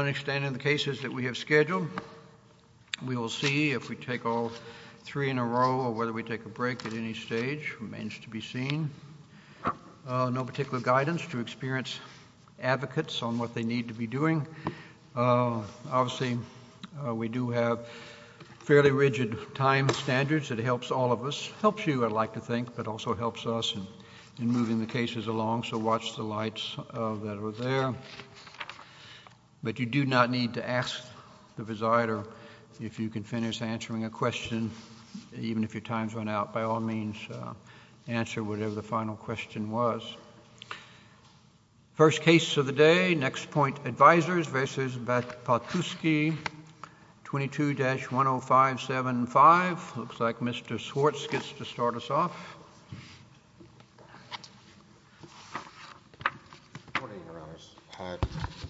On extending the cases that we have scheduled, we will see if we take all three in a row or whether we take a break at any stage, remains to be seen. No particular guidance to experience advocates on what they need to be doing. Obviously, we do have fairly rigid time standards that helps all of us, helps you I'd like to think, but also helps us in moving the cases along, so watch the lights that are there. But you do not need to ask the presider if you can finish answering a question, even if your time's run out. By all means, answer whatever the final question was. First case of the day, NexPoint Advisors v. Pachulski, 22-10575. Looks like Mr. Schwartz gets to start us off.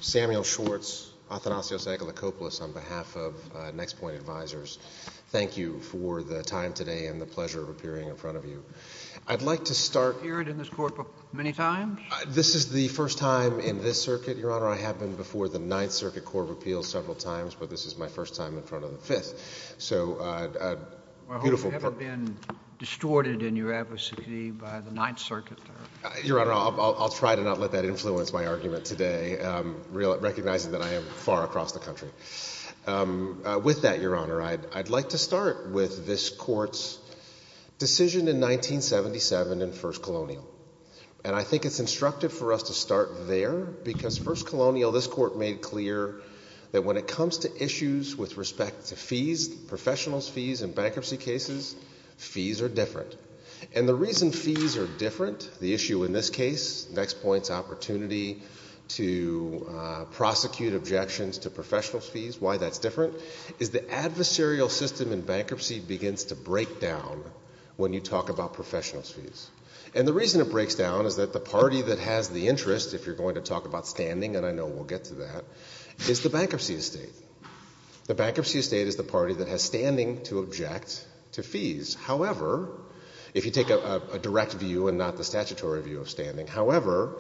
Samuel Schwartz, Athanasios Agalakopoulos on behalf of NexPoint Advisors. Thank you for the time today and the pleasure of appearing in front of you. I'd like to start. You've appeared in this court many times? This is the first time in this circuit, Your Honor. I have been before the Ninth Circuit Court of Appeals several times, but this is my first time in front of the Fifth. So a beautiful court. I hope you haven't been distorted in your advocacy by the Ninth Circuit. Your Honor, I'll try to not let that influence my argument today, recognizing that I am far across the country. With that, Your Honor, I'd like to start with this court's decision in 1977 in First Colonial. And I think it's instructive for us to start there, because First Colonial, this court made clear that when it comes to issues with respect to fees, professionals' fees in bankruptcy cases, fees are different. And the reason fees are different, the issue in this case, NexPoint's opportunity to prosecute objections to professionals' fees, why that's different, is the adversarial system in bankruptcy begins to break down when you talk about professionals' fees. And the reason it breaks down is that the party that has the interest, if you're going to talk about standing, and I know we'll get to that, is the bankruptcy estate. The bankruptcy estate is the party that has standing to object to fees. However, if you take a direct view and not the statutory view of standing, however,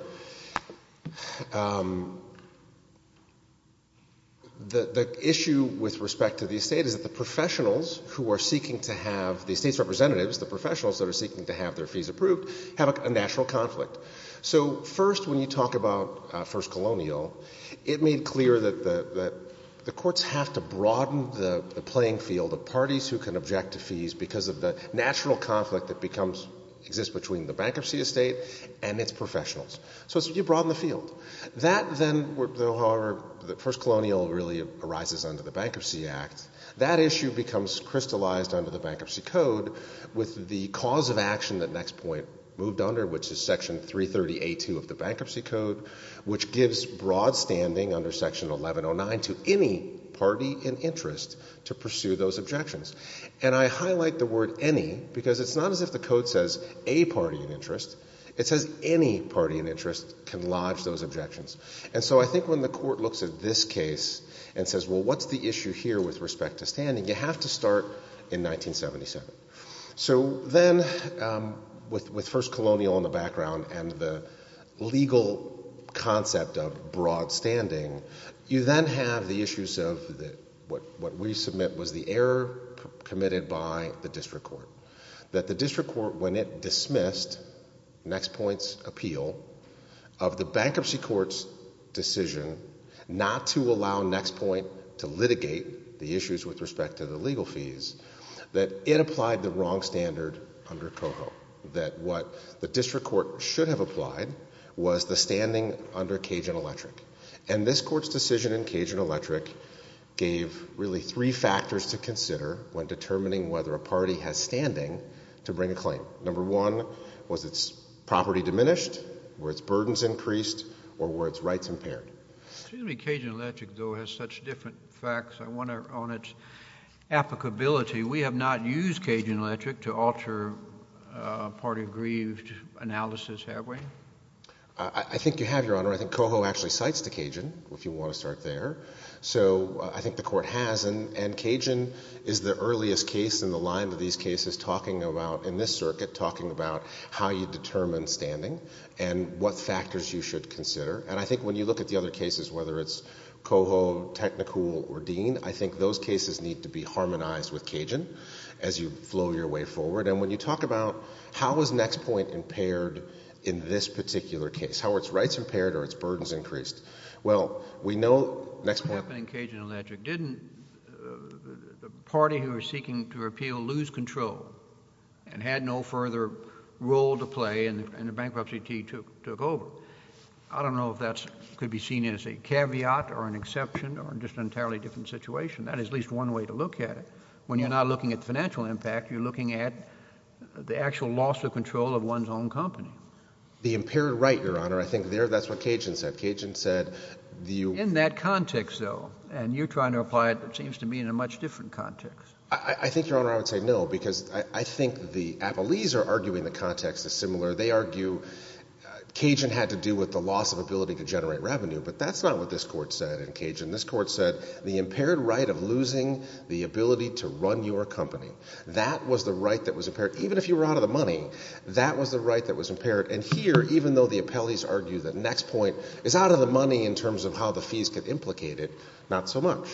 the issue with respect to the estate is that the professionals who are seeking to have, the state's representatives, the professionals that are seeking to have their fees approved, have a natural conflict. So first, when you talk about First Colonial, it made clear that the courts have to broaden the playing field of parties who can object to fees because of the natural conflict that exists between the bankruptcy estate and its professionals. So you broaden the field. That then, however, First Colonial really arises under the Bankruptcy Act. That issue becomes crystallized under the Bankruptcy Code with the cause of action that NexPoint moved under, which is Section 330A2 of the Bankruptcy Code, which gives broad standing under Section 1109 to any party in interest to pursue those objections. And I highlight the word any because it's not as if the code says a party in interest. It says any party in interest can lodge those objections. And so I think when the court looks at this case and says, well, what's the issue here with respect to standing? You have to start in 1977. So then, with First Colonial in the background and the legal concept of broad standing, you then have the issues of what we submit was the error committed by the district court. That the district court, when it dismissed NexPoint's appeal of the Bankruptcy Court's decision not to allow NexPoint to litigate the issues with respect to the legal fees, that it applied the wrong standard under COHO. That what the district court should have applied was the standing under Cajun Electric. And this court's decision in Cajun Electric gave really three factors to consider when determining whether a party has standing to bring a claim. Number one, was its property diminished? Were its burdens increased? Or were its rights impaired? Excuse me, Cajun Electric, though, has such different facts. I wonder on its applicability. We have not used Cajun Electric to alter party grieved analysis, have we? I think you have, Your Honor. I think COHO actually cites the Cajun, if you want to start there. So, I think the court has. And Cajun is the earliest case in the line of these cases talking about, in this circuit, talking about how you determine standing and what factors you should consider. And I think when you look at the other cases, whether it's COHO, Technicool, or Dean, I think those cases need to be harmonized with Cajun as you flow your way forward. And when you talk about, how is Nextpoint impaired in this particular case? How are its rights impaired or its burdens increased? Well, we know Nextpoint- What happened in Cajun Electric, didn't the party who was seeking to repeal lose control and had no further role to play and the bankruptcy deed took over? I don't know if that could be seen as a caveat or an exception or just an entirely different situation. That is at least one way to look at it. When you're not looking at financial impact, you're looking at the actual loss of control of one's own company. The impaired right, Your Honor, I think there, that's what Cajun said. Cajun said, the- In that context, though, and you're trying to apply it, it seems to me, in a much different context. I think, Your Honor, I would say no, because I think the Appellees are arguing the context is similar. They argue Cajun had to do with the loss of ability to generate revenue, but that's not what this Court said in Cajun. This Court said the impaired right of losing the ability to run your company, that was the right that was impaired. Even if you were out of the money, that was the right that was impaired. And here, even though the Appellees argue the next point is out of the money in terms of how the fees get implicated, not so much.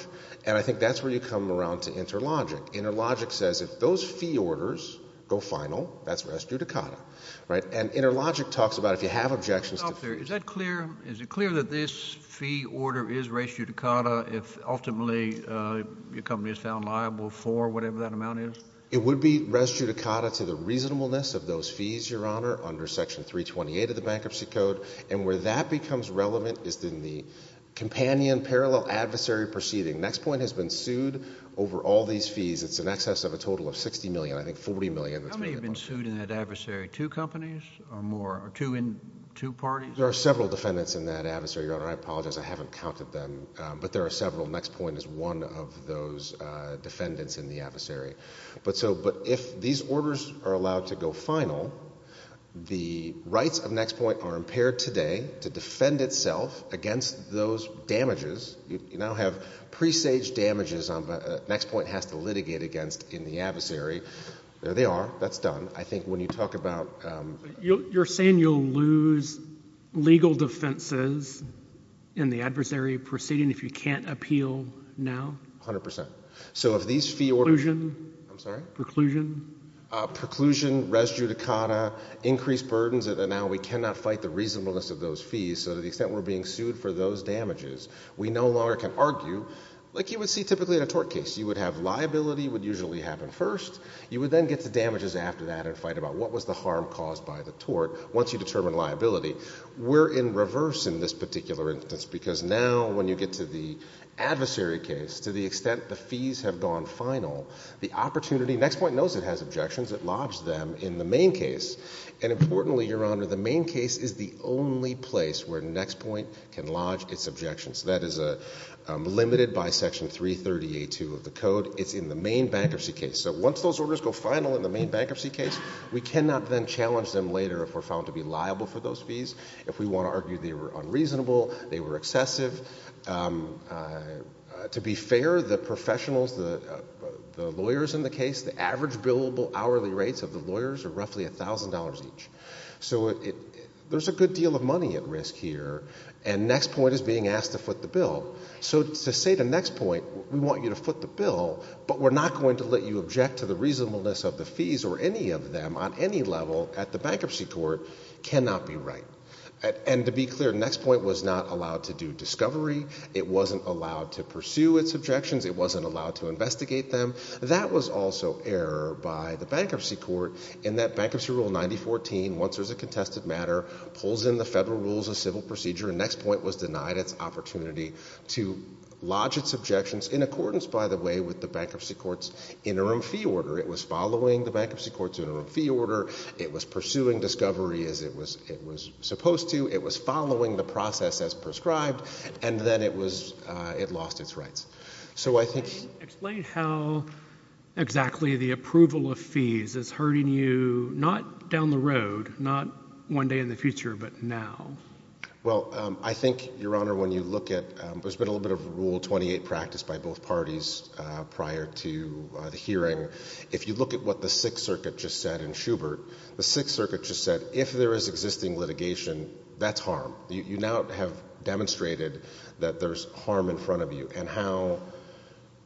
And I think that's where you come around to Interlogic. Interlogic says if those fee orders go final, that's res judicata, right? And Interlogic talks about if you have objections to- Is it clear that this fee order is res judicata if ultimately your company is found liable for whatever that amount is? It would be res judicata to the reasonableness of those fees, Your Honor, under Section 328 of the Bankruptcy Code. And where that becomes relevant is in the companion parallel adversary proceeding. Next point has been sued over all these fees. It's in excess of a total of 60 million, I think 40 million. How many have been sued in that adversary? Two companies or more, or two parties? There are several defendants in that adversary, Your Honor. I apologize, I haven't counted them. But there are several. Next Point is one of those defendants in the adversary. But if these orders are allowed to go final, the rights of Next Point are impaired today to defend itself against those damages. You now have presage damages Next Point has to litigate against in the adversary. There they are, that's done. I think when you talk about... You're saying you'll lose legal defenses in the adversary proceeding if you can't appeal now? 100%. So if these fee orders... Preclusion? I'm sorry? Preclusion? Preclusion, res judicata, increased burdens, and now we cannot fight the reasonableness of those fees. So to the extent we're being sued for those damages, we no longer can argue like you would see typically in a tort case. You would have liability would usually happen first. You would then get to damages after that and fight about what was the harm caused by the tort once you determine liability. We're in reverse in this particular instance because now when you get to the adversary case, to the extent the fees have gone final, the opportunity... Next Point knows it has objections. It lodged them in the main case. And importantly, Your Honor, the main case is the only place where Next Point can lodge its objections. That is limited by Section 330A2 of the code. It's in the main bankruptcy case. So once those orders go final in the main bankruptcy case, we cannot then challenge them later if we're found to be liable for those fees, if we wanna argue they were unreasonable, they were excessive. To be fair, the professionals, the lawyers in the case, the average billable hourly rates of the lawyers are roughly $1,000 each. So there's a good deal of money at risk here and Next Point is being asked to foot the bill. So to say to Next Point, we want you to foot the bill, but we're not going to let you object to the reasonableness of the fees or any of them on any level at the bankruptcy court cannot be right. And to be clear, Next Point was not allowed to do discovery. It wasn't allowed to pursue its objections. It wasn't allowed to investigate them. That was also error by the bankruptcy court in that Bankruptcy Rule 9014, once there's a contested matter, pulls in the federal rules of civil procedure and Next Point was denied its opportunity to lodge its objections in accordance, by the way, with the bankruptcy court's interim fee order. It was following the bankruptcy court's interim fee order. It was pursuing discovery as it was supposed to. It was following the process as prescribed and then it lost its rights. So I think- Explain how exactly the approval of fees is hurting you, not down the road, not one day in the future, but now. Well, I think, Your Honor, when you look at, there's been a little bit of Rule 28 practice by both parties prior to the hearing. If you look at what the Sixth Circuit just said in Schubert, the Sixth Circuit just said, if there is existing litigation, that's harm. You now have demonstrated that there's harm in front of you and how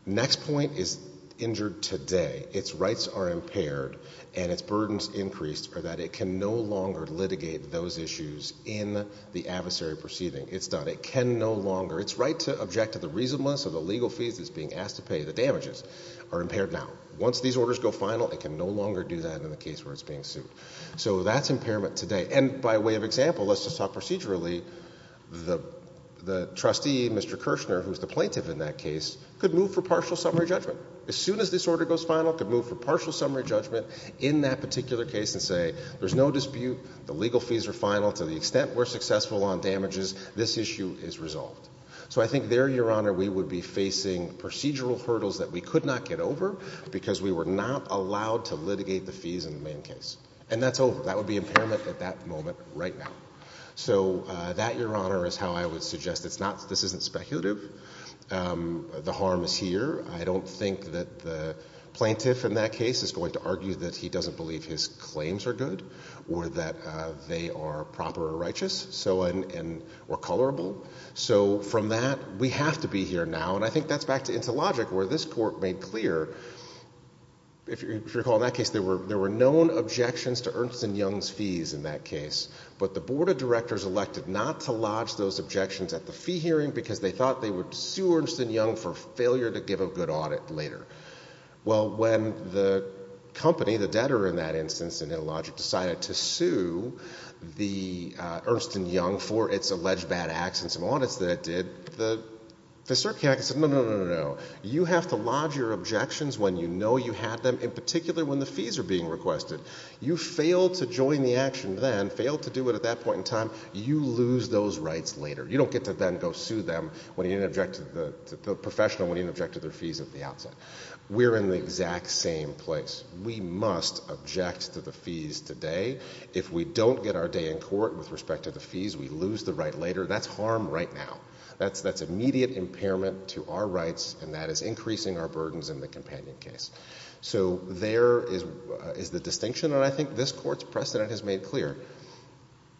Next Point is injured today. Its rights are impaired and its burdens increased or that it can no longer litigate those issues in the adversary proceeding. It's done. It can no longer. Its right to object to the reasonableness of the legal fees it's being asked to pay, the damages, are impaired now. Once these orders go final, it can no longer do that in the case where it's being sued. So that's impairment today. And by way of example, let's just talk procedurally. The trustee, Mr. Kirshner, who's the plaintiff in that case, could move for partial summary judgment. As soon as this order goes final, it could move for partial summary judgment in that particular case and say, there's no dispute, the legal fees are final. To the extent we're successful on damages, this issue is resolved. So I think there, Your Honor, we would be facing procedural hurdles that we could not get over because we were not allowed to litigate the fees in the main case. And that's over. That would be impairment at that moment right now. So that, Your Honor, is how I would suggest it's not, this isn't speculative, the harm is here. I don't think that the plaintiff in that case is going to argue that he doesn't believe his claims are good or that they are proper or righteous. So, and we're colorable. So from that, we have to be here now. And I think that's back to Intellogic where this court made clear, if you recall in that case, there were known objections to Ernst & Young's fees in that case, but the board of directors elected not to lodge those objections at the fee hearing because they thought they would sue Ernst & Young for failure to give a good audit later. Well, when the company, the debtor in that instance, Intellogic decided to sue the Ernst & Young for its alleged bad acts and some audits that it did, the circuit said, no, no, no, no, no. You have to lodge your objections when you know you had them, in particular when the fees are being requested. You failed to join the action then, failed to do it at that point in time, you lose those rights later. You don't get to then go sue them when you didn't object to the professional, when you didn't object to their fees at the outset. We're in the exact same place. We must object to the fees today. If we don't get our day in court with respect to the fees, we lose the right later. That's harm right now. That's immediate impairment to our rights and that is increasing our burdens in the companion case. So there is the distinction and I think this court's precedent has made clear.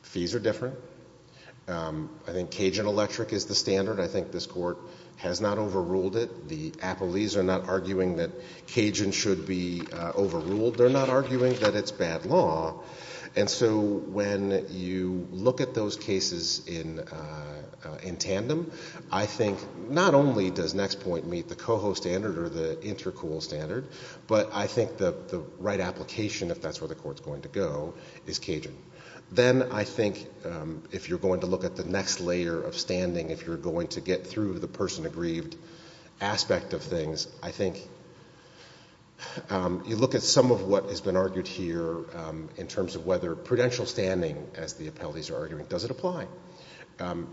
Fees are different. I think Cajun Electric is the standard. I think this court has not overruled it. The appellees are not arguing that Cajun should be overruled. They're not arguing that it's bad law. And so when you look at those cases in tandem, I think not only does Nextpoint meet the COHO standard or the Intercool standard, but I think the right application, if that's where the court's going to go, is Cajun. Then I think if you're going to look at the next layer of standing, if you're going to get through the person aggrieved aspect of things, I think you look at some of what has been argued here in terms of whether prudential standing, as the appellees are arguing, does it apply?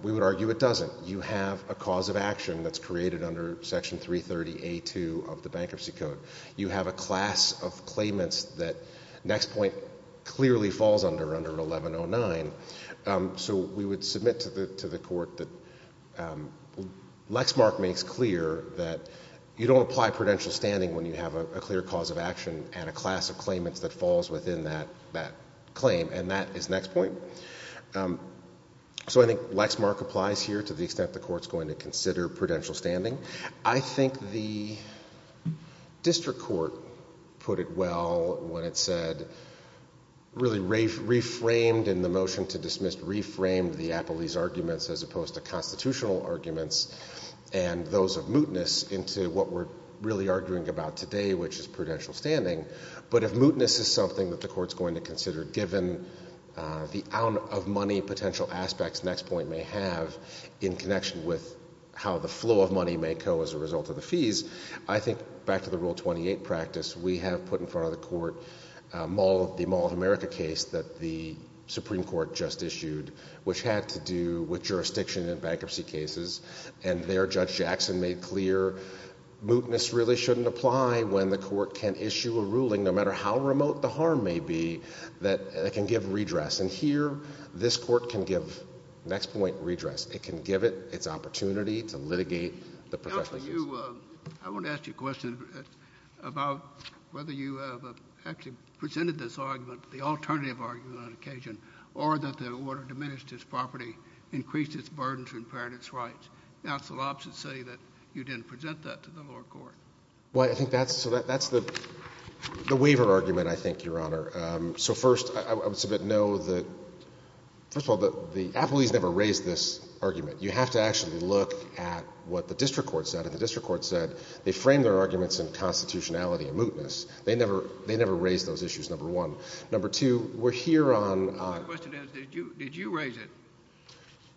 We would argue it doesn't. You have a cause of action that's created under Section 330A2 of the Bankruptcy Code. You have a class of claimants that Nextpoint clearly falls under, under 1109. So we would submit to the court that Lexmark makes clear that you don't apply prudential standing when you have a clear cause of action and a class of claimants that falls within that claim, and that is Nextpoint. So I think Lexmark applies here to the extent the court's going to consider prudential standing. I think the district court put it well when it said, really reframed in the motion to dismiss, reframed the appellees' arguments as opposed to constitutional arguments and those of mootness into what we're really arguing about today, which is prudential standing. But if mootness is something that the court's going to consider, given the amount of money potential aspects Nextpoint may have in connection with how the flow of money may go as a result of the fees, I think back to the Rule 28 practice, we have put in front of the court the Mall of America case that the Supreme Court just issued, which had to do with jurisdiction in bankruptcy cases, and there Judge Jackson made clear mootness really shouldn't apply when the court can issue a ruling, no matter how remote the harm may be, that it can give redress. And here, this court can give Nextpoint redress. It can give it its opportunity to litigate the professional case. about whether you have actually presented this argument, the alternative argument on occasion, or that the order diminished its property, increased its burdens and impaired its rights. Now it's the opposite to say that you didn't present that to the lower court. Well, I think that's the waiver argument, I think, Your Honor. So first, I would submit, no, that, first of all, the appellees never raised this argument. You have to actually look at what the district court said. And the district court said they framed their arguments in constitutionality and mootness. They never raised those issues, number one. Number two, we're here on- My question is, did you raise it?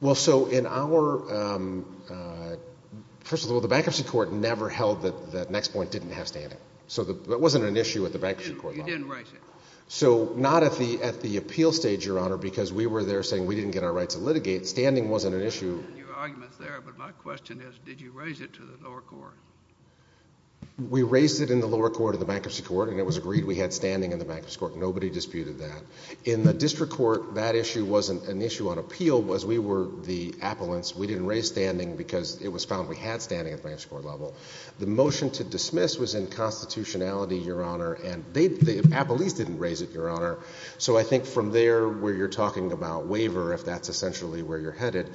Well, so in our, first of all, the bankruptcy court never held that Nextpoint didn't have standing. So that wasn't an issue at the bankruptcy court level. You didn't raise it. So not at the appeal stage, Your Honor, because we were there saying we didn't get our rights to litigate. Standing wasn't an issue. Your argument's there, but my question is, did you raise it to the lower court? We raised it in the lower court of the bankruptcy court, and it was agreed we had standing in the bankruptcy court. Nobody disputed that. In the district court, that issue wasn't an issue on appeal, was we were the appellants. We didn't raise standing because it was found we had standing at the bankruptcy court level. The motion to dismiss was in constitutionality, Your Honor, and the appellees didn't raise it, Your Honor. So I think from there, where you're talking about waiver, if that's essentially where you're headed,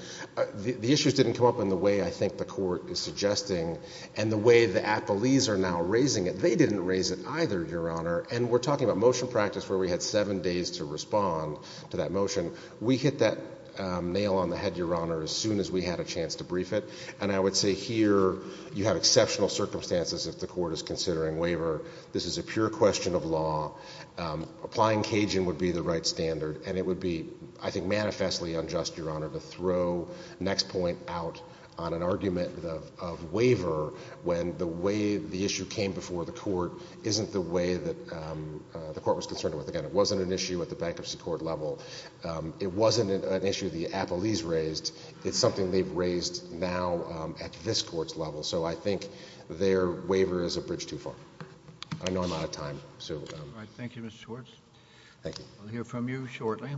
the issues didn't come up in the way I think the court is suggesting. And the way the appellees are now raising it, they didn't raise it either, Your Honor. And we're talking about motion practice where we had seven days to respond to that motion. We hit that nail on the head, Your Honor, as soon as we had a chance to brief it. And I would say here, you have exceptional circumstances if the court is considering waiver. This is a pure question of law. Applying Cajun would be the right standard, and it would be, I think, manifestly unjust, Your Honor, to throw next point out on an argument of waiver when the way the issue came before the court isn't the way that the court was concerned with. Again, it wasn't an issue at the bankruptcy court level. It wasn't an issue the appellees raised. It's something they've raised now at this court's level. So I think their waiver is a bridge too far. I know I'm out of time, so. All right, thank you, Mr. Schwartz. Thank you. I'll hear from you shortly.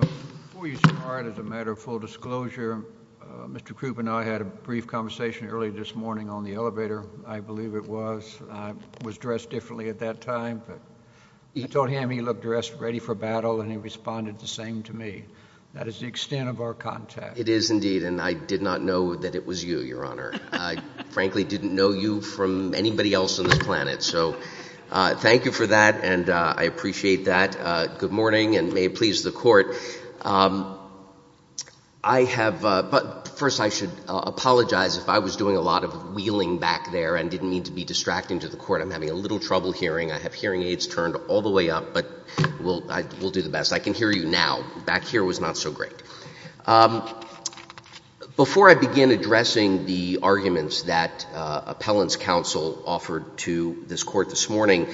Before you start, as a matter of full disclosure, Mr. Krupp and I had a brief conversation early this morning on the elevator. I believe it was. I was dressed differently at that time, but I told him he looked dressed ready for battle, and he responded the same to me. That is the extent of our contact. It is indeed, and I did not know that it was you, Your Honor. I frankly didn't know you from anybody else on this planet. So thank you for that, and I appreciate that. Good morning, and may it please the court. I have, but first I should apologize. If I was doing a lot of wheeling back there and didn't mean to be distracting to the court, I'm having a little trouble hearing. I have hearing aids turned all the way up, but we'll do the best. I can hear you now. Back here was not so great. Before I begin addressing the arguments that appellant's counsel offered to this court this morning,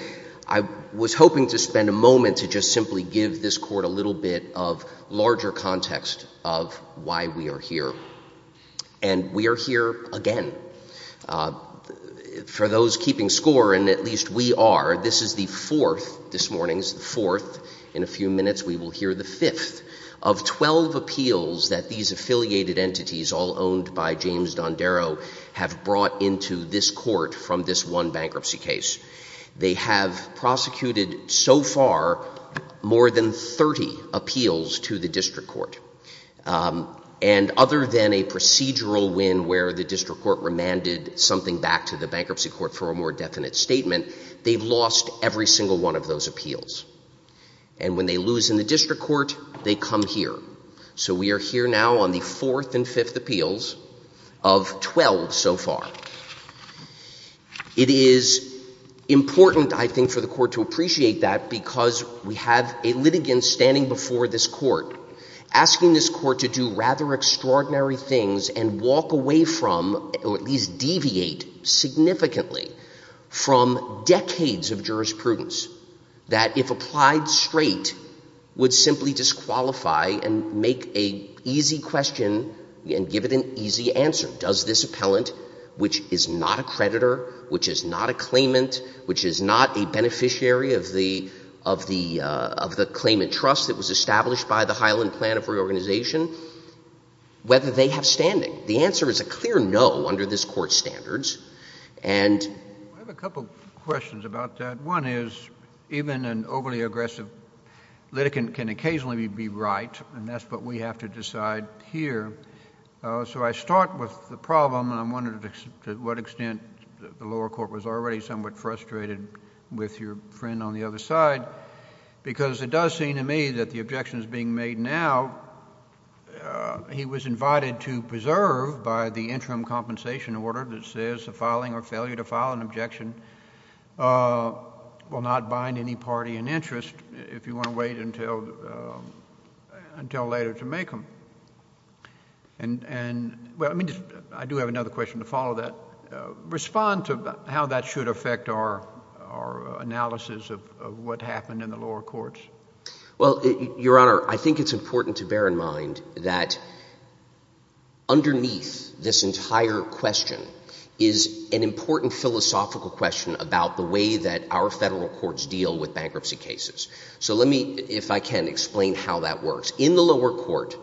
I was hoping to spend a moment to just simply give this court a little bit of larger context of why we are here. And we are here again. For those keeping score, and at least we are, this is the fourth, this morning's the fourth, in a few minutes we will hear the fifth, of 12 appeals that these affiliated entities, all owned by James Dondero, have brought into this court from this one bankruptcy case. They have prosecuted, so far, more than 30 appeals to the district court. And other than a procedural win where the district court remanded something back to the bankruptcy court for a more definite statement, they've lost every single one of those appeals. And when they lose in the district court, they come here. So we are here now on the fourth and fifth appeals of 12 so far. It is important, I think, for the court to appreciate that because we have a litigant standing before this court asking this court to do rather extraordinary things and walk away from, or at least deviate significantly from decades of jurisprudence that if applied straight, would simply disqualify and make a easy question and give it an easy answer. Does this appellant, which is not a creditor, which is not a claimant, which is not a beneficiary of the claimant trust that was established by the Highland Plan of Reorganization, whether they have standing? The answer is a clear no under this court's standards. And- I have a couple of questions about that. One is, even an overly aggressive litigant can occasionally be right, and that's what we have to decide here. So I start with the problem, and I'm wondering to what extent the lower court was already somewhat frustrated with your friend on the other side, because it does seem to me that the objection is being made now, he was invited to preserve by the interim compensation order that says the filing or failure to file an objection will not bind any party in interest if you want to wait until later to make them. And, well, I mean, I do have another question to follow that. Respond to how that should affect our analysis of what happened in the lower courts. Well, Your Honor, I think it's important to bear in mind that underneath this entire question is an important philosophical question about the way that our federal courts deal with bankruptcy cases. So let me, if I can, explain how that works. In the lower court,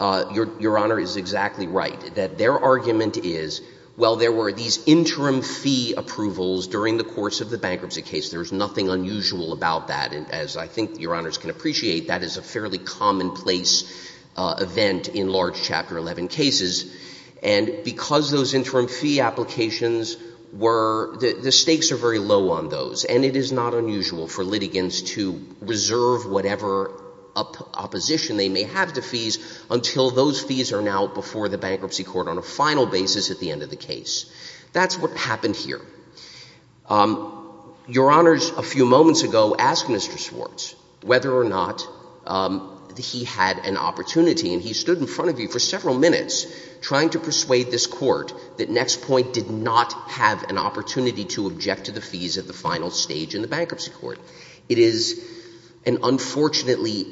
Your Honor is exactly right, that their argument is, well, there were these interim fee approvals during the course of the bankruptcy case. There's nothing unusual about that, as I think Your Honors can appreciate. That is a fairly commonplace event in large Chapter 11 cases. And because those interim fee applications were, the stakes are very low on those. And it is not unusual for litigants to reserve whatever opposition they may have to fees until those fees are now before the bankruptcy court on a final basis at the end of the case. That's what happened here. Your Honors, a few moments ago, asked Mr. Schwartz whether or not he had an opportunity, and he stood in front of you for several minutes trying to persuade this court that Nextpoint did not have an opportunity to object to the fees at the final stage in the bankruptcy court. It is an unfortunately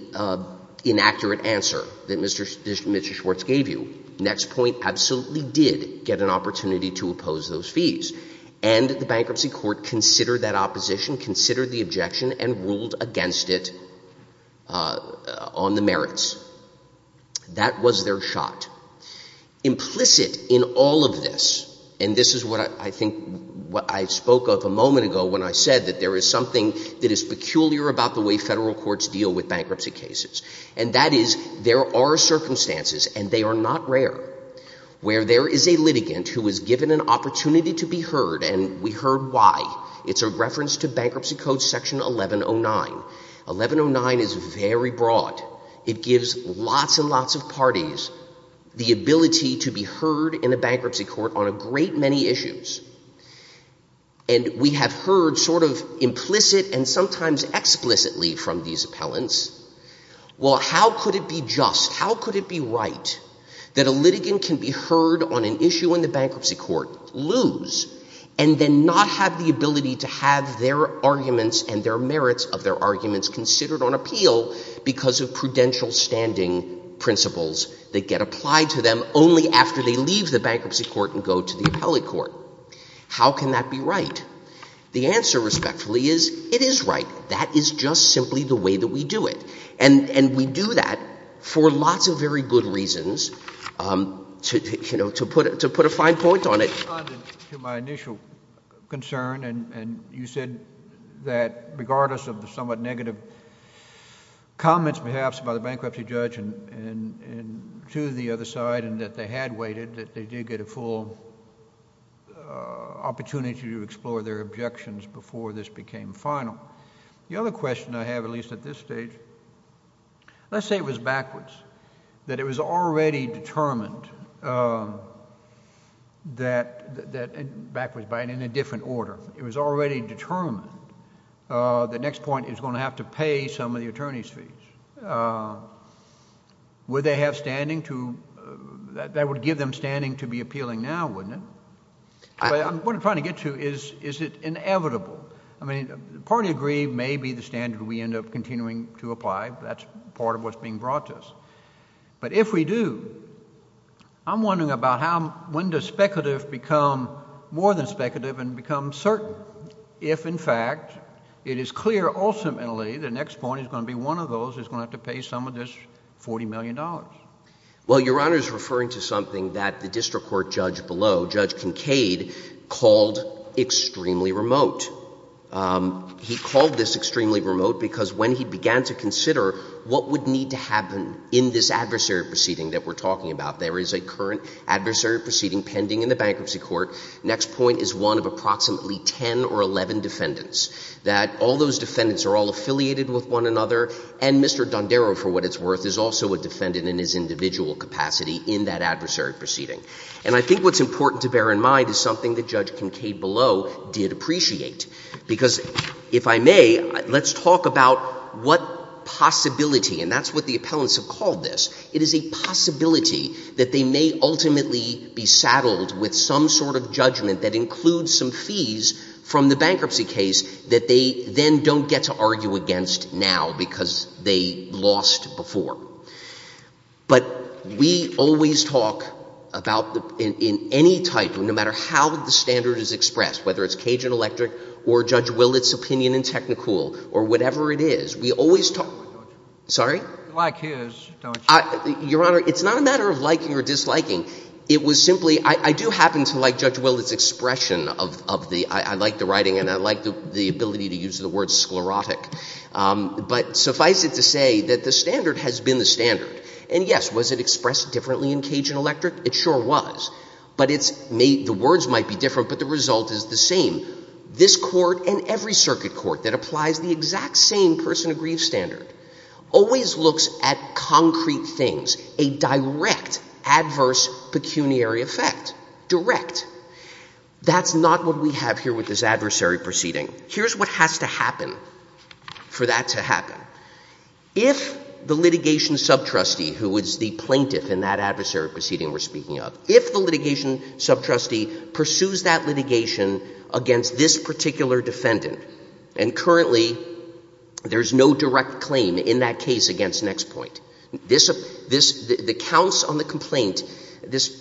inaccurate answer that Mr. Schwartz gave you. Nextpoint absolutely did get an opportunity to oppose those fees. And the bankruptcy court considered that opposition, considered the objection, and ruled against it on the merits. That was their shot. Implicit in all of this, and this is what I think I spoke of a moment ago when I said that there is something that is peculiar about the way federal courts deal with bankruptcy cases. And that is there are circumstances, and they are not rare, where there is a litigant who is given an opportunity to be heard, and we heard why. It's a reference to Bankruptcy Code Section 1109. 1109 is very broad. It gives lots and lots of parties the ability to be heard in a bankruptcy court on a great many issues. And we have heard sort of implicit and sometimes explicitly from these appellants, well, how could it be just, how could it be right that a litigant can be heard on an issue in the bankruptcy court, lose, and then not have the ability to have their arguments and their merits of their arguments considered on appeal because of prudential standing principles that get applied to them only after they leave the bankruptcy court and go to the appellate court? How can that be right? The answer, respectfully, is it is right. That is just simply the way that we do it. And we do that for lots of very good reasons, to put a fine point on it. To my initial concern, and you said that regardless of the somewhat negative comments, perhaps, by the bankruptcy judge to the other side and that they had waited, that they did get a full opportunity to explore their objections before this became final. The other question I have, at least at this stage, let's say it was backwards, that it was already determined that, backwards, but in a different order, it was already determined the next point is going to have to pay some of the attorney's fees. Would they have standing to, that would give them standing to be appealing now, wouldn't it? What I'm trying to get to is, is it inevitable? I mean, the party agreed, maybe, the standard we end up continuing to apply. That's part of what's being brought to us. But if we do, I'm wondering about how, when does speculative become more than speculative and become certain? If, in fact, it is clear, ultimately, the next point is going to be one of those who's going to have to pay some of this $40 million. Well, Your Honor's referring to something that the district court judge below, Judge Kincaid, called extremely remote. He called this extremely remote because, when he began to consider what would need to happen in this adversary proceeding that we're talking about, there is a current adversary proceeding pending in the bankruptcy court. Next point is one of approximately 10 or 11 defendants, that all those defendants are all affiliated with one another. And Mr. Dondero, for what it's worth, is also a defendant in his individual capacity in that adversary proceeding. And I think what's important to bear in mind is something that Judge Kincaid below did appreciate. Because, if I may, let's talk about what possibility, and that's what the appellants have called this, it is a possibility that they may ultimately be saddled with some sort of judgment that includes some fees from the bankruptcy case that they then don't get to argue against now because they lost before. But we always talk about, in any type, no matter how the standard is expressed, whether it's Cajun Electric or Judge Willett's opinion in Technicool, or whatever it is, we always talk, sorry? Like his, don't you? Your Honor, it's not a matter of liking or disliking. It was simply, I do happen to like Judge Willett's expression of the, I like the writing and I like the ability to use the word sclerotic. But suffice it to say that the standard has been the standard. And yes, was it expressed differently in Cajun Electric? It sure was. But the words might be different, but the result is the same. This court and every circuit court that applies the exact same person of grief standard always looks at concrete things, a direct adverse pecuniary effect, direct. That's not what we have here with this adversary proceeding. Here's what has to happen for that to happen. If the litigation subtrustee, who I'm speaking of, if the litigation subtrustee pursues that litigation against this particular defendant, and currently there is no direct claim in that case against Nextpoint, the counts on the complaint,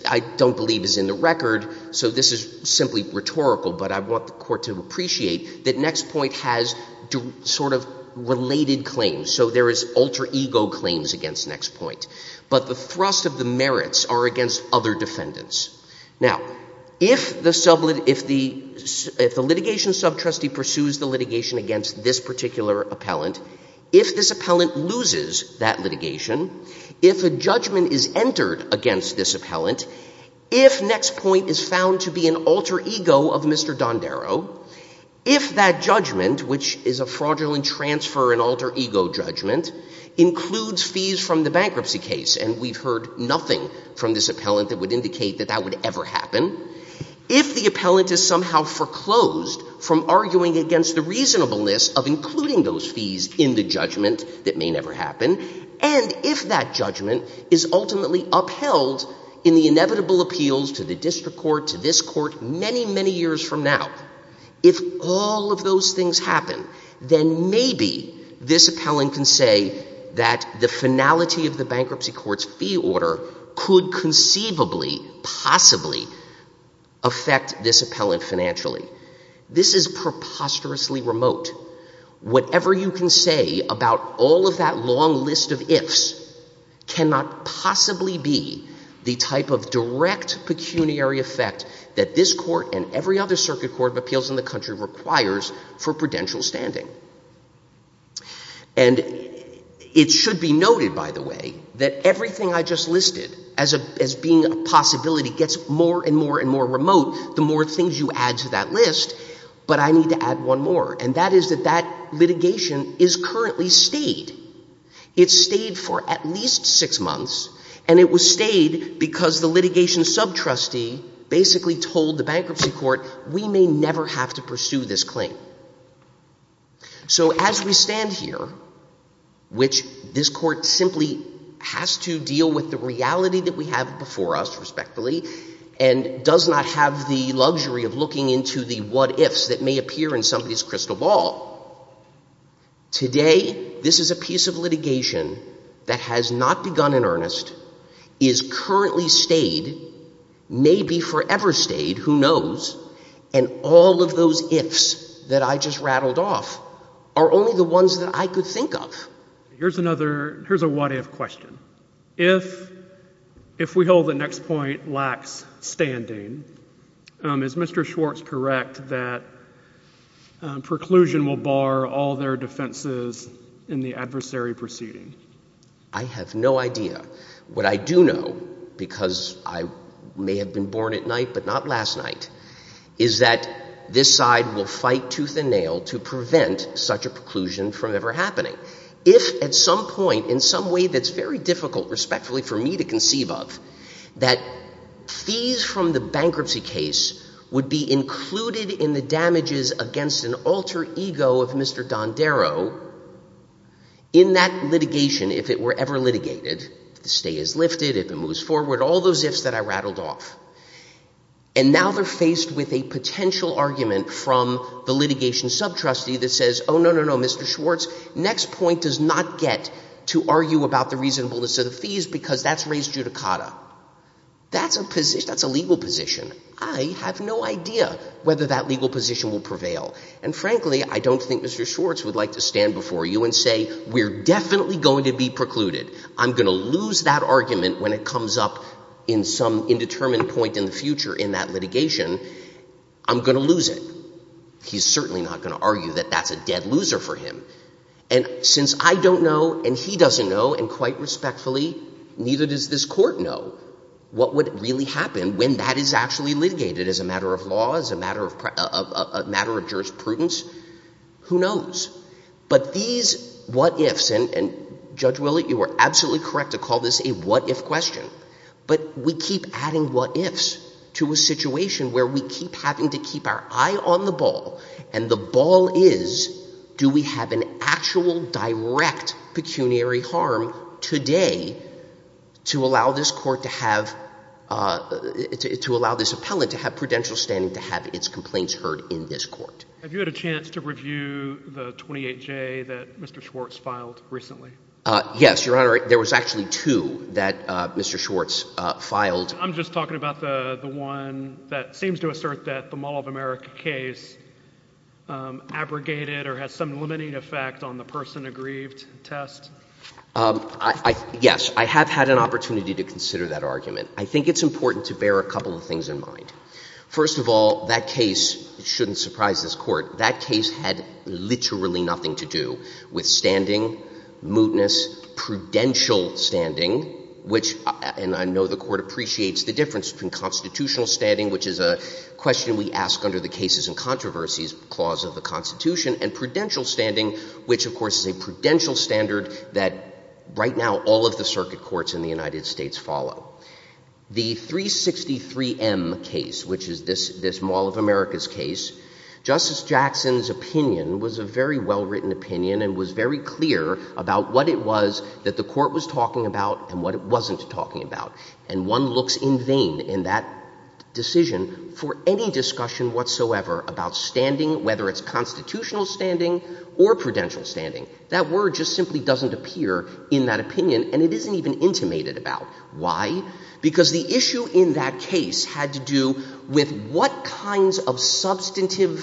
I don't believe is in the record. So this is simply rhetorical. But I want the court to appreciate that Nextpoint has sort of related claims. So there is alter ego claims against Nextpoint. But the thrust of the merits are against other defendants. Now, if the litigation subtrustee pursues the litigation against this particular appellant, if this appellant loses that litigation, if a judgment is entered against this appellant, if Nextpoint is found to be an alter ego of Mr. Dondero, if that judgment, which is a fraudulent transfer and alter case, and we've heard nothing from this appellant that would indicate that that would ever happen, if the appellant is somehow foreclosed from arguing against the reasonableness of including those fees in the judgment that may never happen, and if that judgment is ultimately upheld in the inevitable appeals to the district court, to this court, many, many years from now, if all of those things happen, then maybe this appellant can say that the finality of the bankruptcy court's fee order could conceivably, possibly affect this appellant financially. This is preposterously remote. Whatever you can say about all of that long list of ifs cannot possibly be the type of direct pecuniary effect that this court and every other circuit court of appeals in the country requires for prudential standing. And it should be noted, by the way, that everything I just listed, as being a possibility, gets more and more and more remote the more things you add to that list, but I need to add one more, and that is that that litigation is currently stayed. It stayed for at least six months, and it was stayed because the litigation sub-trustee basically told the bankruptcy court, we may never have to pursue this claim. So as we stand here, which this court simply has to deal with the reality that we have before us, respectively, and does not have the luxury of looking into the what ifs that may appear in somebody's crystal ball, today, this is a piece of litigation that has not begun in earnest, is currently stayed, may be forever stayed, who knows, and all of those ifs that I just rattled off are only the ones that I could think of. Here's another, here's a what if question. If we hold the next point lacks standing, is Mr. Schwartz correct that preclusion will bar all their defenses in the adversary proceeding? I have no idea. What I do know, because I may have been born at night, but not last night, is that this side will fight tooth and nail to prevent such a preclusion from ever happening. If at some point, in some way that's very difficult, respectfully, for me to conceive of, that fees from the bankruptcy case would be included in the damages against an alter ego of Mr. Dondero, in that litigation, if it were ever litigated, if the stay is lifted, if it moves forward, all those ifs that I rattled off. And now they're faced with a potential argument from the litigation sub-trustee that says, oh, no, no, no, Mr. Schwartz, next point does not get to argue about the reasonableness of the fees, because that's raised judicata. That's a position, that's a legal position. I have no idea whether that legal position will prevail. And frankly, I don't think Mr. Schwartz would like to stand before you and say, we're definitely going to be precluded. I'm going to lose that argument when it comes up in some indeterminate point in the future in that litigation. I'm going to lose it. He's certainly not going to argue that that's a dead loser for him. And since I don't know, and he doesn't know, and quite respectfully, neither does this court know, what would really happen when that is actually litigated as a matter of law, as a matter of jurisprudence? Who knows? But these what ifs, and Judge Willett, you were absolutely correct to call this a what if question. But we keep adding what ifs to a situation where we keep having to keep our eye on the ball. And the ball is, do we have an actual direct pecuniary harm today to allow this court to have, to allow this appellant to have prudential standing to have its complaints heard in this court? Have you had a chance to review the 28J that Mr. Schwartz filed recently? Yes, Your Honor. There was actually two that Mr. Schwartz filed. I'm just talking about the one that seems to assert that the Mall of America case abrogated or has some limiting effect on the person aggrieved test. Yes, I have had an opportunity to consider that argument. I think it's important to bear a couple of things in mind. First of all, that case, it shouldn't surprise this court, that case had literally nothing to do with standing, mootness, prudential standing, which, and I know the court appreciates the difference between constitutional standing, which is a question we ask under the cases and controversies clause of the Constitution, and prudential standing, which, of course, is a prudential standard that, right now, all of the circuit courts in the United States follow. The 363M case, which is this Mall of America's case, Justice Jackson's opinion was a very well-written opinion and was very clear about what it was that the court was talking about and what it wasn't talking about. And one looks in vain in that decision for any discussion whatsoever about standing, whether it's constitutional standing or prudential standing. That word just simply doesn't appear in that opinion, and it isn't even intimated about. Why? Because the issue in that case had to do with what kinds of substantive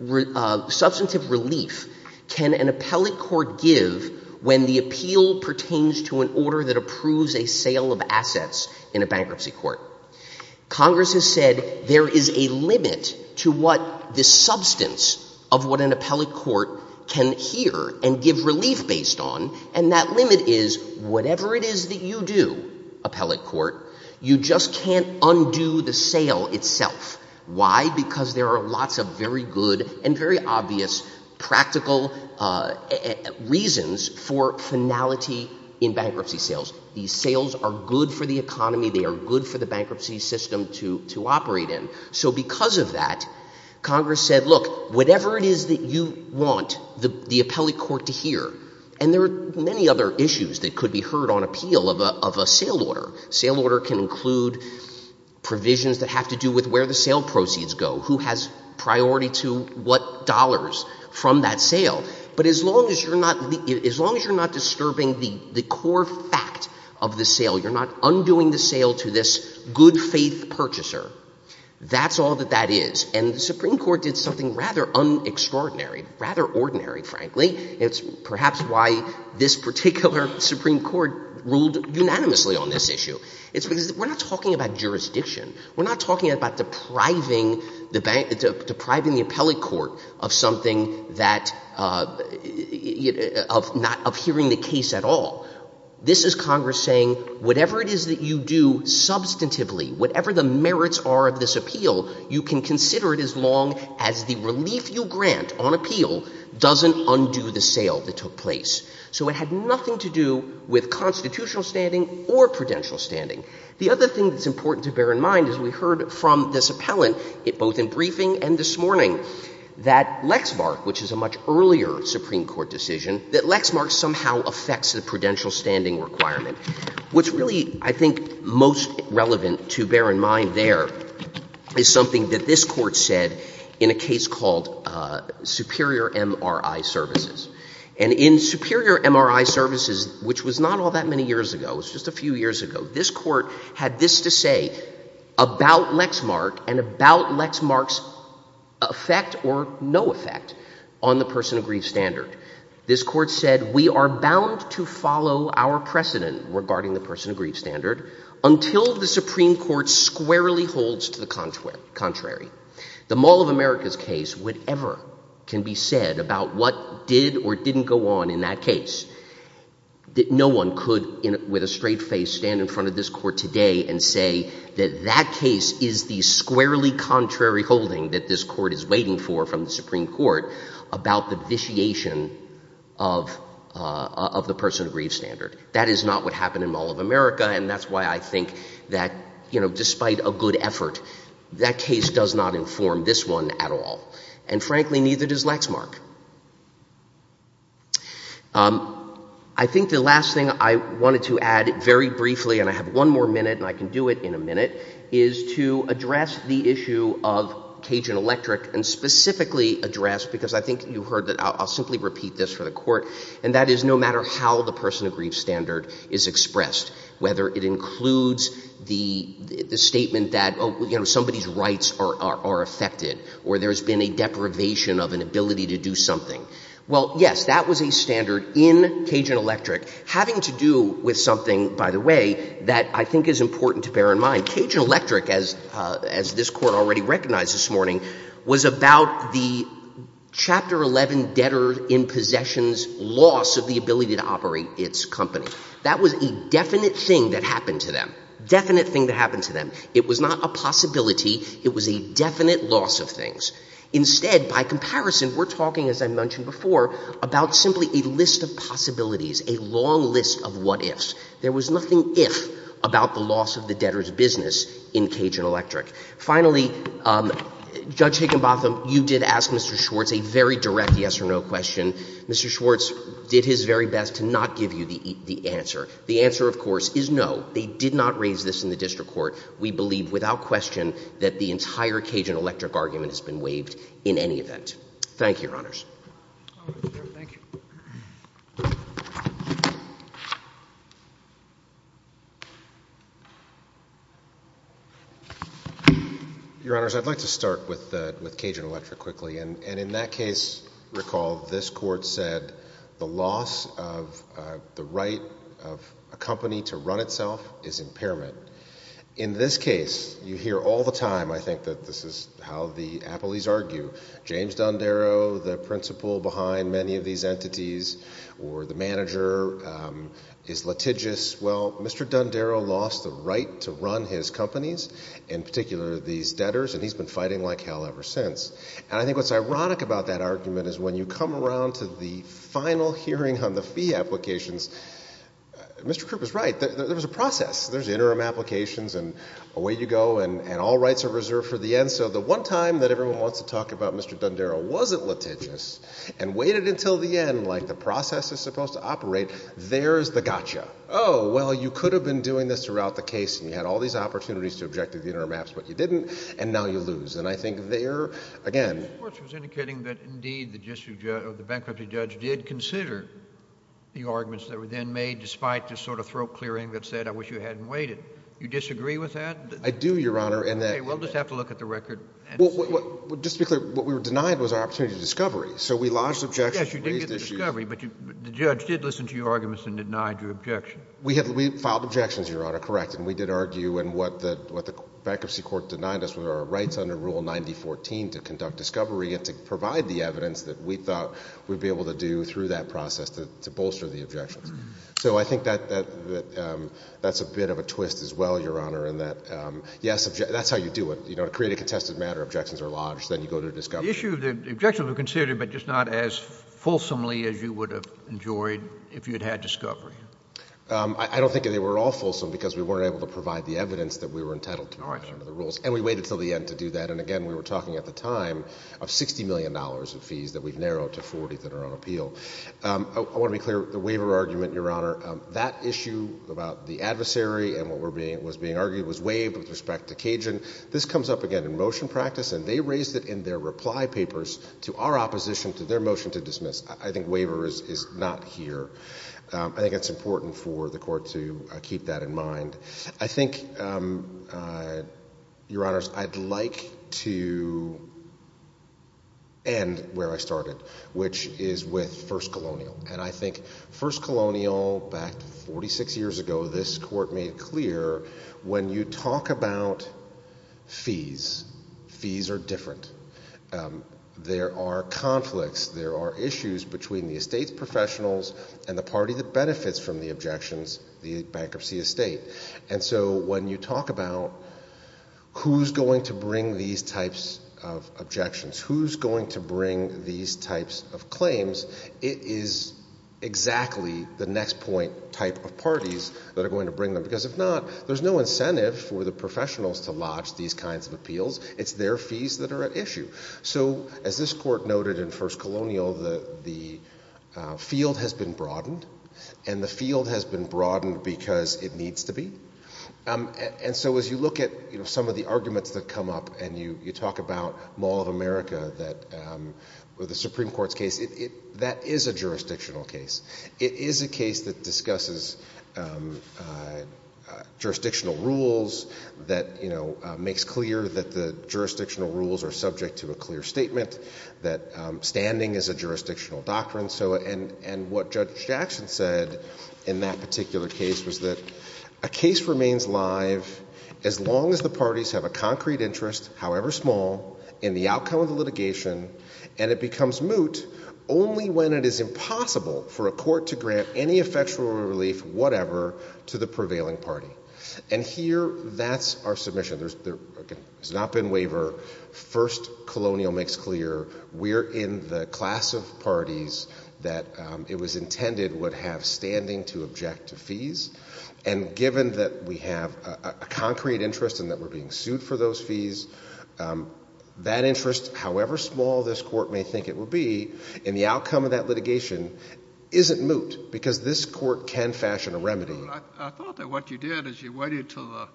relief can an appellate court give when the appeal pertains to an order that approves a sale of assets in a bankruptcy court. Congress has said there is a limit to what the substance of what an appellate court can hear and give relief based on, and that limit is, whatever it is that you do, appellate court, you just can't undo the sale itself. Why? Because there are lots of very good and very obvious practical reasons for finality in bankruptcy sales. These sales are good for the economy. They are good for the bankruptcy system to operate in. So because of that, Congress said, look, whatever it is that you want the appellate court to hear. And there are many other issues that could be heard on appeal of a sale order. Sale order can include provisions that have to do with where the sale proceeds go, who has priority to what dollars from that sale. But as long as you're not disturbing the core fact of the sale, you're not undoing the sale to this good faith purchaser, that's all that that is. And the Supreme Court did something rather extraordinary, rather ordinary, frankly. It's perhaps why this particular Supreme Court ruled unanimously on this issue. It's because we're not talking about jurisdiction. We're not talking about depriving the appellate court of hearing the case at all. This is Congress saying, whatever it is that you do substantively, whatever the merits are of this appeal, you can consider it as long as the relief you grant on appeal doesn't undo the sale that took place. So it had nothing to do with constitutional standing or prudential standing. The other thing that's important to bear in mind is we heard from this appellant, both in briefing and this morning, that Lexmark, which is a much earlier Supreme Court decision, that Lexmark somehow affects the prudential standing requirement. What's really, I think, most relevant to bear in mind there is something that this court said in a case called Superior MRI Services. And in Superior MRI Services, which was not all that many ago, it was just a few years ago, this court had this to say about Lexmark and about Lexmark's effect or no effect on the person of grief standard. This court said, we are bound to follow our precedent regarding the person of grief standard until the Supreme Court squarely holds to the contrary. The Mall of America's case, whatever can be said about what did or didn't go on in that case, that no one could, with a straight face, stand in front of this court today and say that that case is the squarely contrary holding that this court is waiting for from the Supreme Court about the vitiation of the person of grief standard. That is not what happened in Mall of America. And that's why I think that, despite a good effort, that case does not inform this one at all. And frankly, neither does Lexmark. I think the last thing I wanted to add very briefly, and I have one more minute and I can do it in a minute, is to address the issue of Cajun Electric and specifically address, because I think you heard that I'll simply repeat this for the court, and that is no matter how the person of grief standard is expressed, whether it includes the statement that, oh, somebody's rights are affected, or there's been a deprivation of an ability to do something. Well, yes, that was a standard in Cajun Electric, having to do with something, by the way, that I think is important to bear in mind. Cajun Electric, as this court already recognized this morning, was about the Chapter 11 debtor in possessions loss of the ability to operate its company. That was a definite thing that happened to them. Definite thing that happened to them. It was not a possibility. It was a definite loss of things. Instead, by comparison, we're talking, as I mentioned before, about simply a list of possibilities, a long list of what ifs. There was nothing if about the loss of the debtor's business in Cajun Electric. Finally, Judge Higginbotham, you did ask Mr. Schwartz a very direct yes or no question. Mr. Schwartz did his very best to not give you the answer. The answer, of course, is no. They did not raise this in the district court. We believe without question that the entire Cajun Electric argument has been waived in any event. Thank you, Your Honors. All right. Thank you. Your Honors, I'd like to start with Cajun Electric quickly. And in that case, recall this court said the loss of the right of a company to run itself is impairment. In this case, you hear all the time, I think, that this is how the appellees argue. James Dundarrow, the principal behind many of these entities, or the manager, is litigious. Well, Mr. Dundarrow lost the right to run his companies, in particular, these debtors. And he's been fighting like hell ever since. And I think what's ironic about that argument is when you come around to the final hearing on the fee applications, Mr. Krupp is right. There was a process. There's interim applications, and away you go. And all rights are reserved for the end. So the one time that everyone wants to talk about Mr. Dundarrow wasn't litigious, and waited until the end, like the process is supposed to operate, there's the gotcha. Oh, well, you could have been doing this throughout the case. And you had all these opportunities to object to the interim apps. But you didn't. And now you lose. And I think there, again, The court was indicating that, indeed, the bankruptcy judge did consider the arguments that were then made despite this sort of throat clearing that said, I wish you hadn't waited. You disagree with that? I do, Your Honor. OK, we'll just have to look at the record and see. Just to be clear, what we were denied was our opportunity to discovery. So we lodged objections. Yes, you did get the discovery. But the judge did listen to your arguments and denied your objection. We filed objections, Your Honor, correct. And we did argue. And what the bankruptcy court denied us was our rights under Rule 9014 to conduct discovery and to provide the evidence that we thought we'd be able to do through that process to bolster the objections. So I think that's a bit of a twist as well, Your Honor, in that, yes, that's how you do it. To create a contested matter, objections are lodged. Then you go to discovery. The objections were considered, but just not as fulsomely as you would have enjoyed if you had had discovery. I don't think they were all fulsome, because we weren't able to provide the evidence that we were entitled to under the rules. And we waited till the end to do that. And again, we were talking at the time of $60 million of fees that we've narrowed to 40 that are on appeal. I want to be clear. The waiver argument, Your Honor, that issue about the adversary and what was being argued was waived with respect to Cajun. This comes up again in motion practice. And they raised it in their reply papers to our opposition to their motion to dismiss. I think waiver is not here. I think it's important for the court to keep that in mind. I think, Your Honors, I'd like to end where I started, which is with First Colonial. And I think First Colonial, back 46 years ago, this court made clear, when you talk about fees, fees are different. There are conflicts. There are issues between the estate professionals and the party that benefits from the objections, the bankruptcy estate. And so when you talk about who's going to bring these types of objections, who's going to bring these types of claims, it is exactly the next point type of parties that are going to bring them. Because if not, there's no incentive for the professionals to lodge these kinds of appeals. It's their fees that are at issue. So as this court noted in First Colonial, the field has been broadened. And the field has been broadened because it needs to be. And so as you look at some of the arguments that come up and you talk about Mall of America, the Supreme Court's case, that is a jurisdictional case. It is a case that discusses jurisdictional rules, that makes clear that the jurisdictional rules are subject to a clear statement, that standing is a jurisdictional doctrine. And what Judge Jackson said in that particular case was that a case remains live as long as the parties have a concrete interest, however small, in the outcome of the litigation. And it becomes moot only when it is impossible for a court to grant any effectual relief, whatever, to the prevailing party. And here, that's our submission. There's not been waiver. First Colonial makes clear we're in the class of parties that it was intended would have standing to object to fees. And given that we have a concrete interest and that we're being sued for those fees, that interest, however small this court may think it will be, in the outcome of that litigation, isn't moot because this court can fashion a remedy. I thought that what you did is you waited to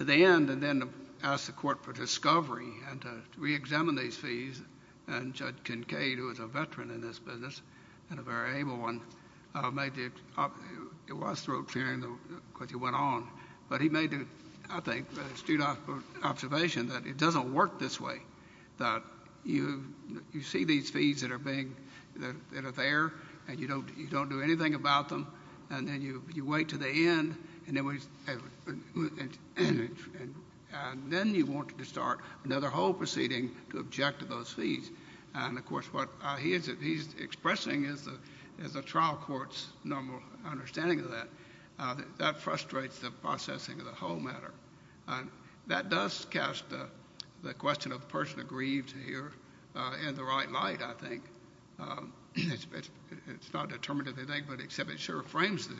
the end and then asked the court for discovery and to re-examine these fees. And Judge Kincaid, who is a veteran in this business and a very able one, made it up. It was throat clearing because you went on. But he made, I think, an astute observation that it doesn't work this way, that you see these fees that are there, and you don't do anything about them. And then you wait to the end, and then you want to start another whole proceeding to object to those fees. And of course, what he is expressing is the trial court's normal understanding of that. That frustrates the processing of the whole matter. That does cast the question of the person aggrieved here in the right light, I think. It's not determinative, I think, but it sure frames the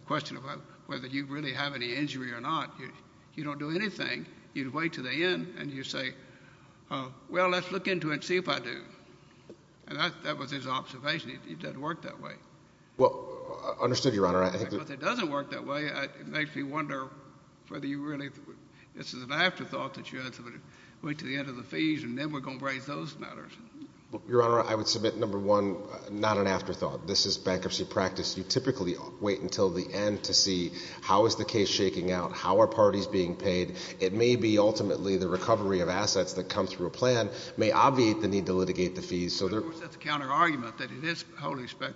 question of whether you really have any injury or not. You don't do anything. You wait to the end, and you say, well, let's look into it and see if I do. And that was his observation. It doesn't work that way. Well, understood, Your Honor. I think that it doesn't work that way. It makes me wonder whether you really this is an afterthought that you had to wait to the end of the fees, and then we're going to raise those matters. Your Honor, I would submit, number one, not an afterthought. This is bankruptcy practice. You typically wait until the end to see how is the case shaking out? How are parties being paid? It may be, ultimately, the recovery of assets that come through a plan may obviate the need to litigate the fees. So there is a counterargument that it is wholly speculative.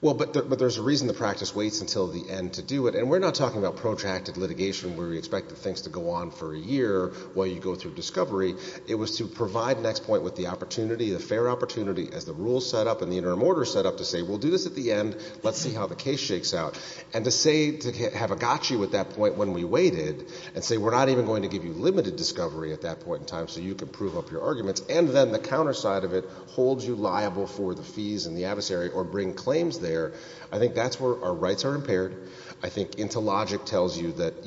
Well, but there's a reason the practice waits until the end to do it. And we're not talking about protracted litigation where we expect things to go on for a year while you go through discovery. It was to provide next point with the opportunity, the fair opportunity, as the rules set up and the interim order set up, to say, we'll do this at the end. Let's see how the case shakes out. And to say, to have a gotcha at that point when we waited, and say, we're not even going to give you limited discovery at that point in time so you can prove up your arguments, and then the counter side of it holds you liable for the fees and the adversary or bring claims there, I think that's where our rights are impaired. I think interlogic tells you that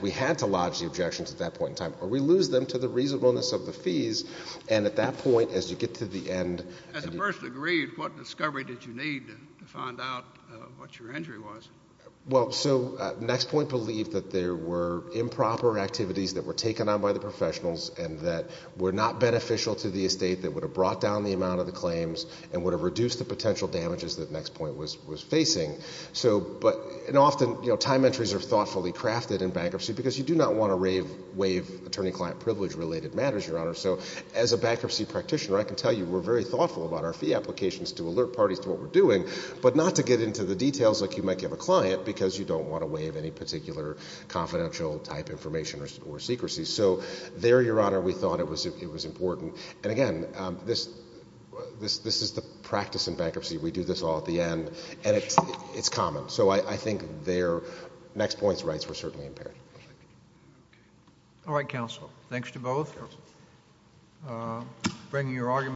we had to lodge the objections at that point in time. Or we lose them to the reasonableness of the fees. And at that point, as you get to the end. As a first degree, what discovery did you need to find out what your injury was? Well, so next point believed that there were improper activities that were taken on by the professionals and that were not beneficial to the estate that would have brought down the amount of the claims and would have reduced the potential damages that next point was facing. But often, time entries are thoughtfully crafted in bankruptcy because you do not want to waive attorney-client privilege-related matters, Your Honor. So as a bankruptcy practitioner, I can tell you we're very thoughtful about our fee applications to alert parties to what we're doing, but not to get into the details like you might give a client because you don't want to waive any particular confidential type information or secrecy. So there, Your Honor, we thought it was important. And again, this is the practice in bankruptcy. We do this all at the end, and it's common. So I think there, next point's rights were certainly impaired. All right, counsel. Thanks to both for bringing your argument.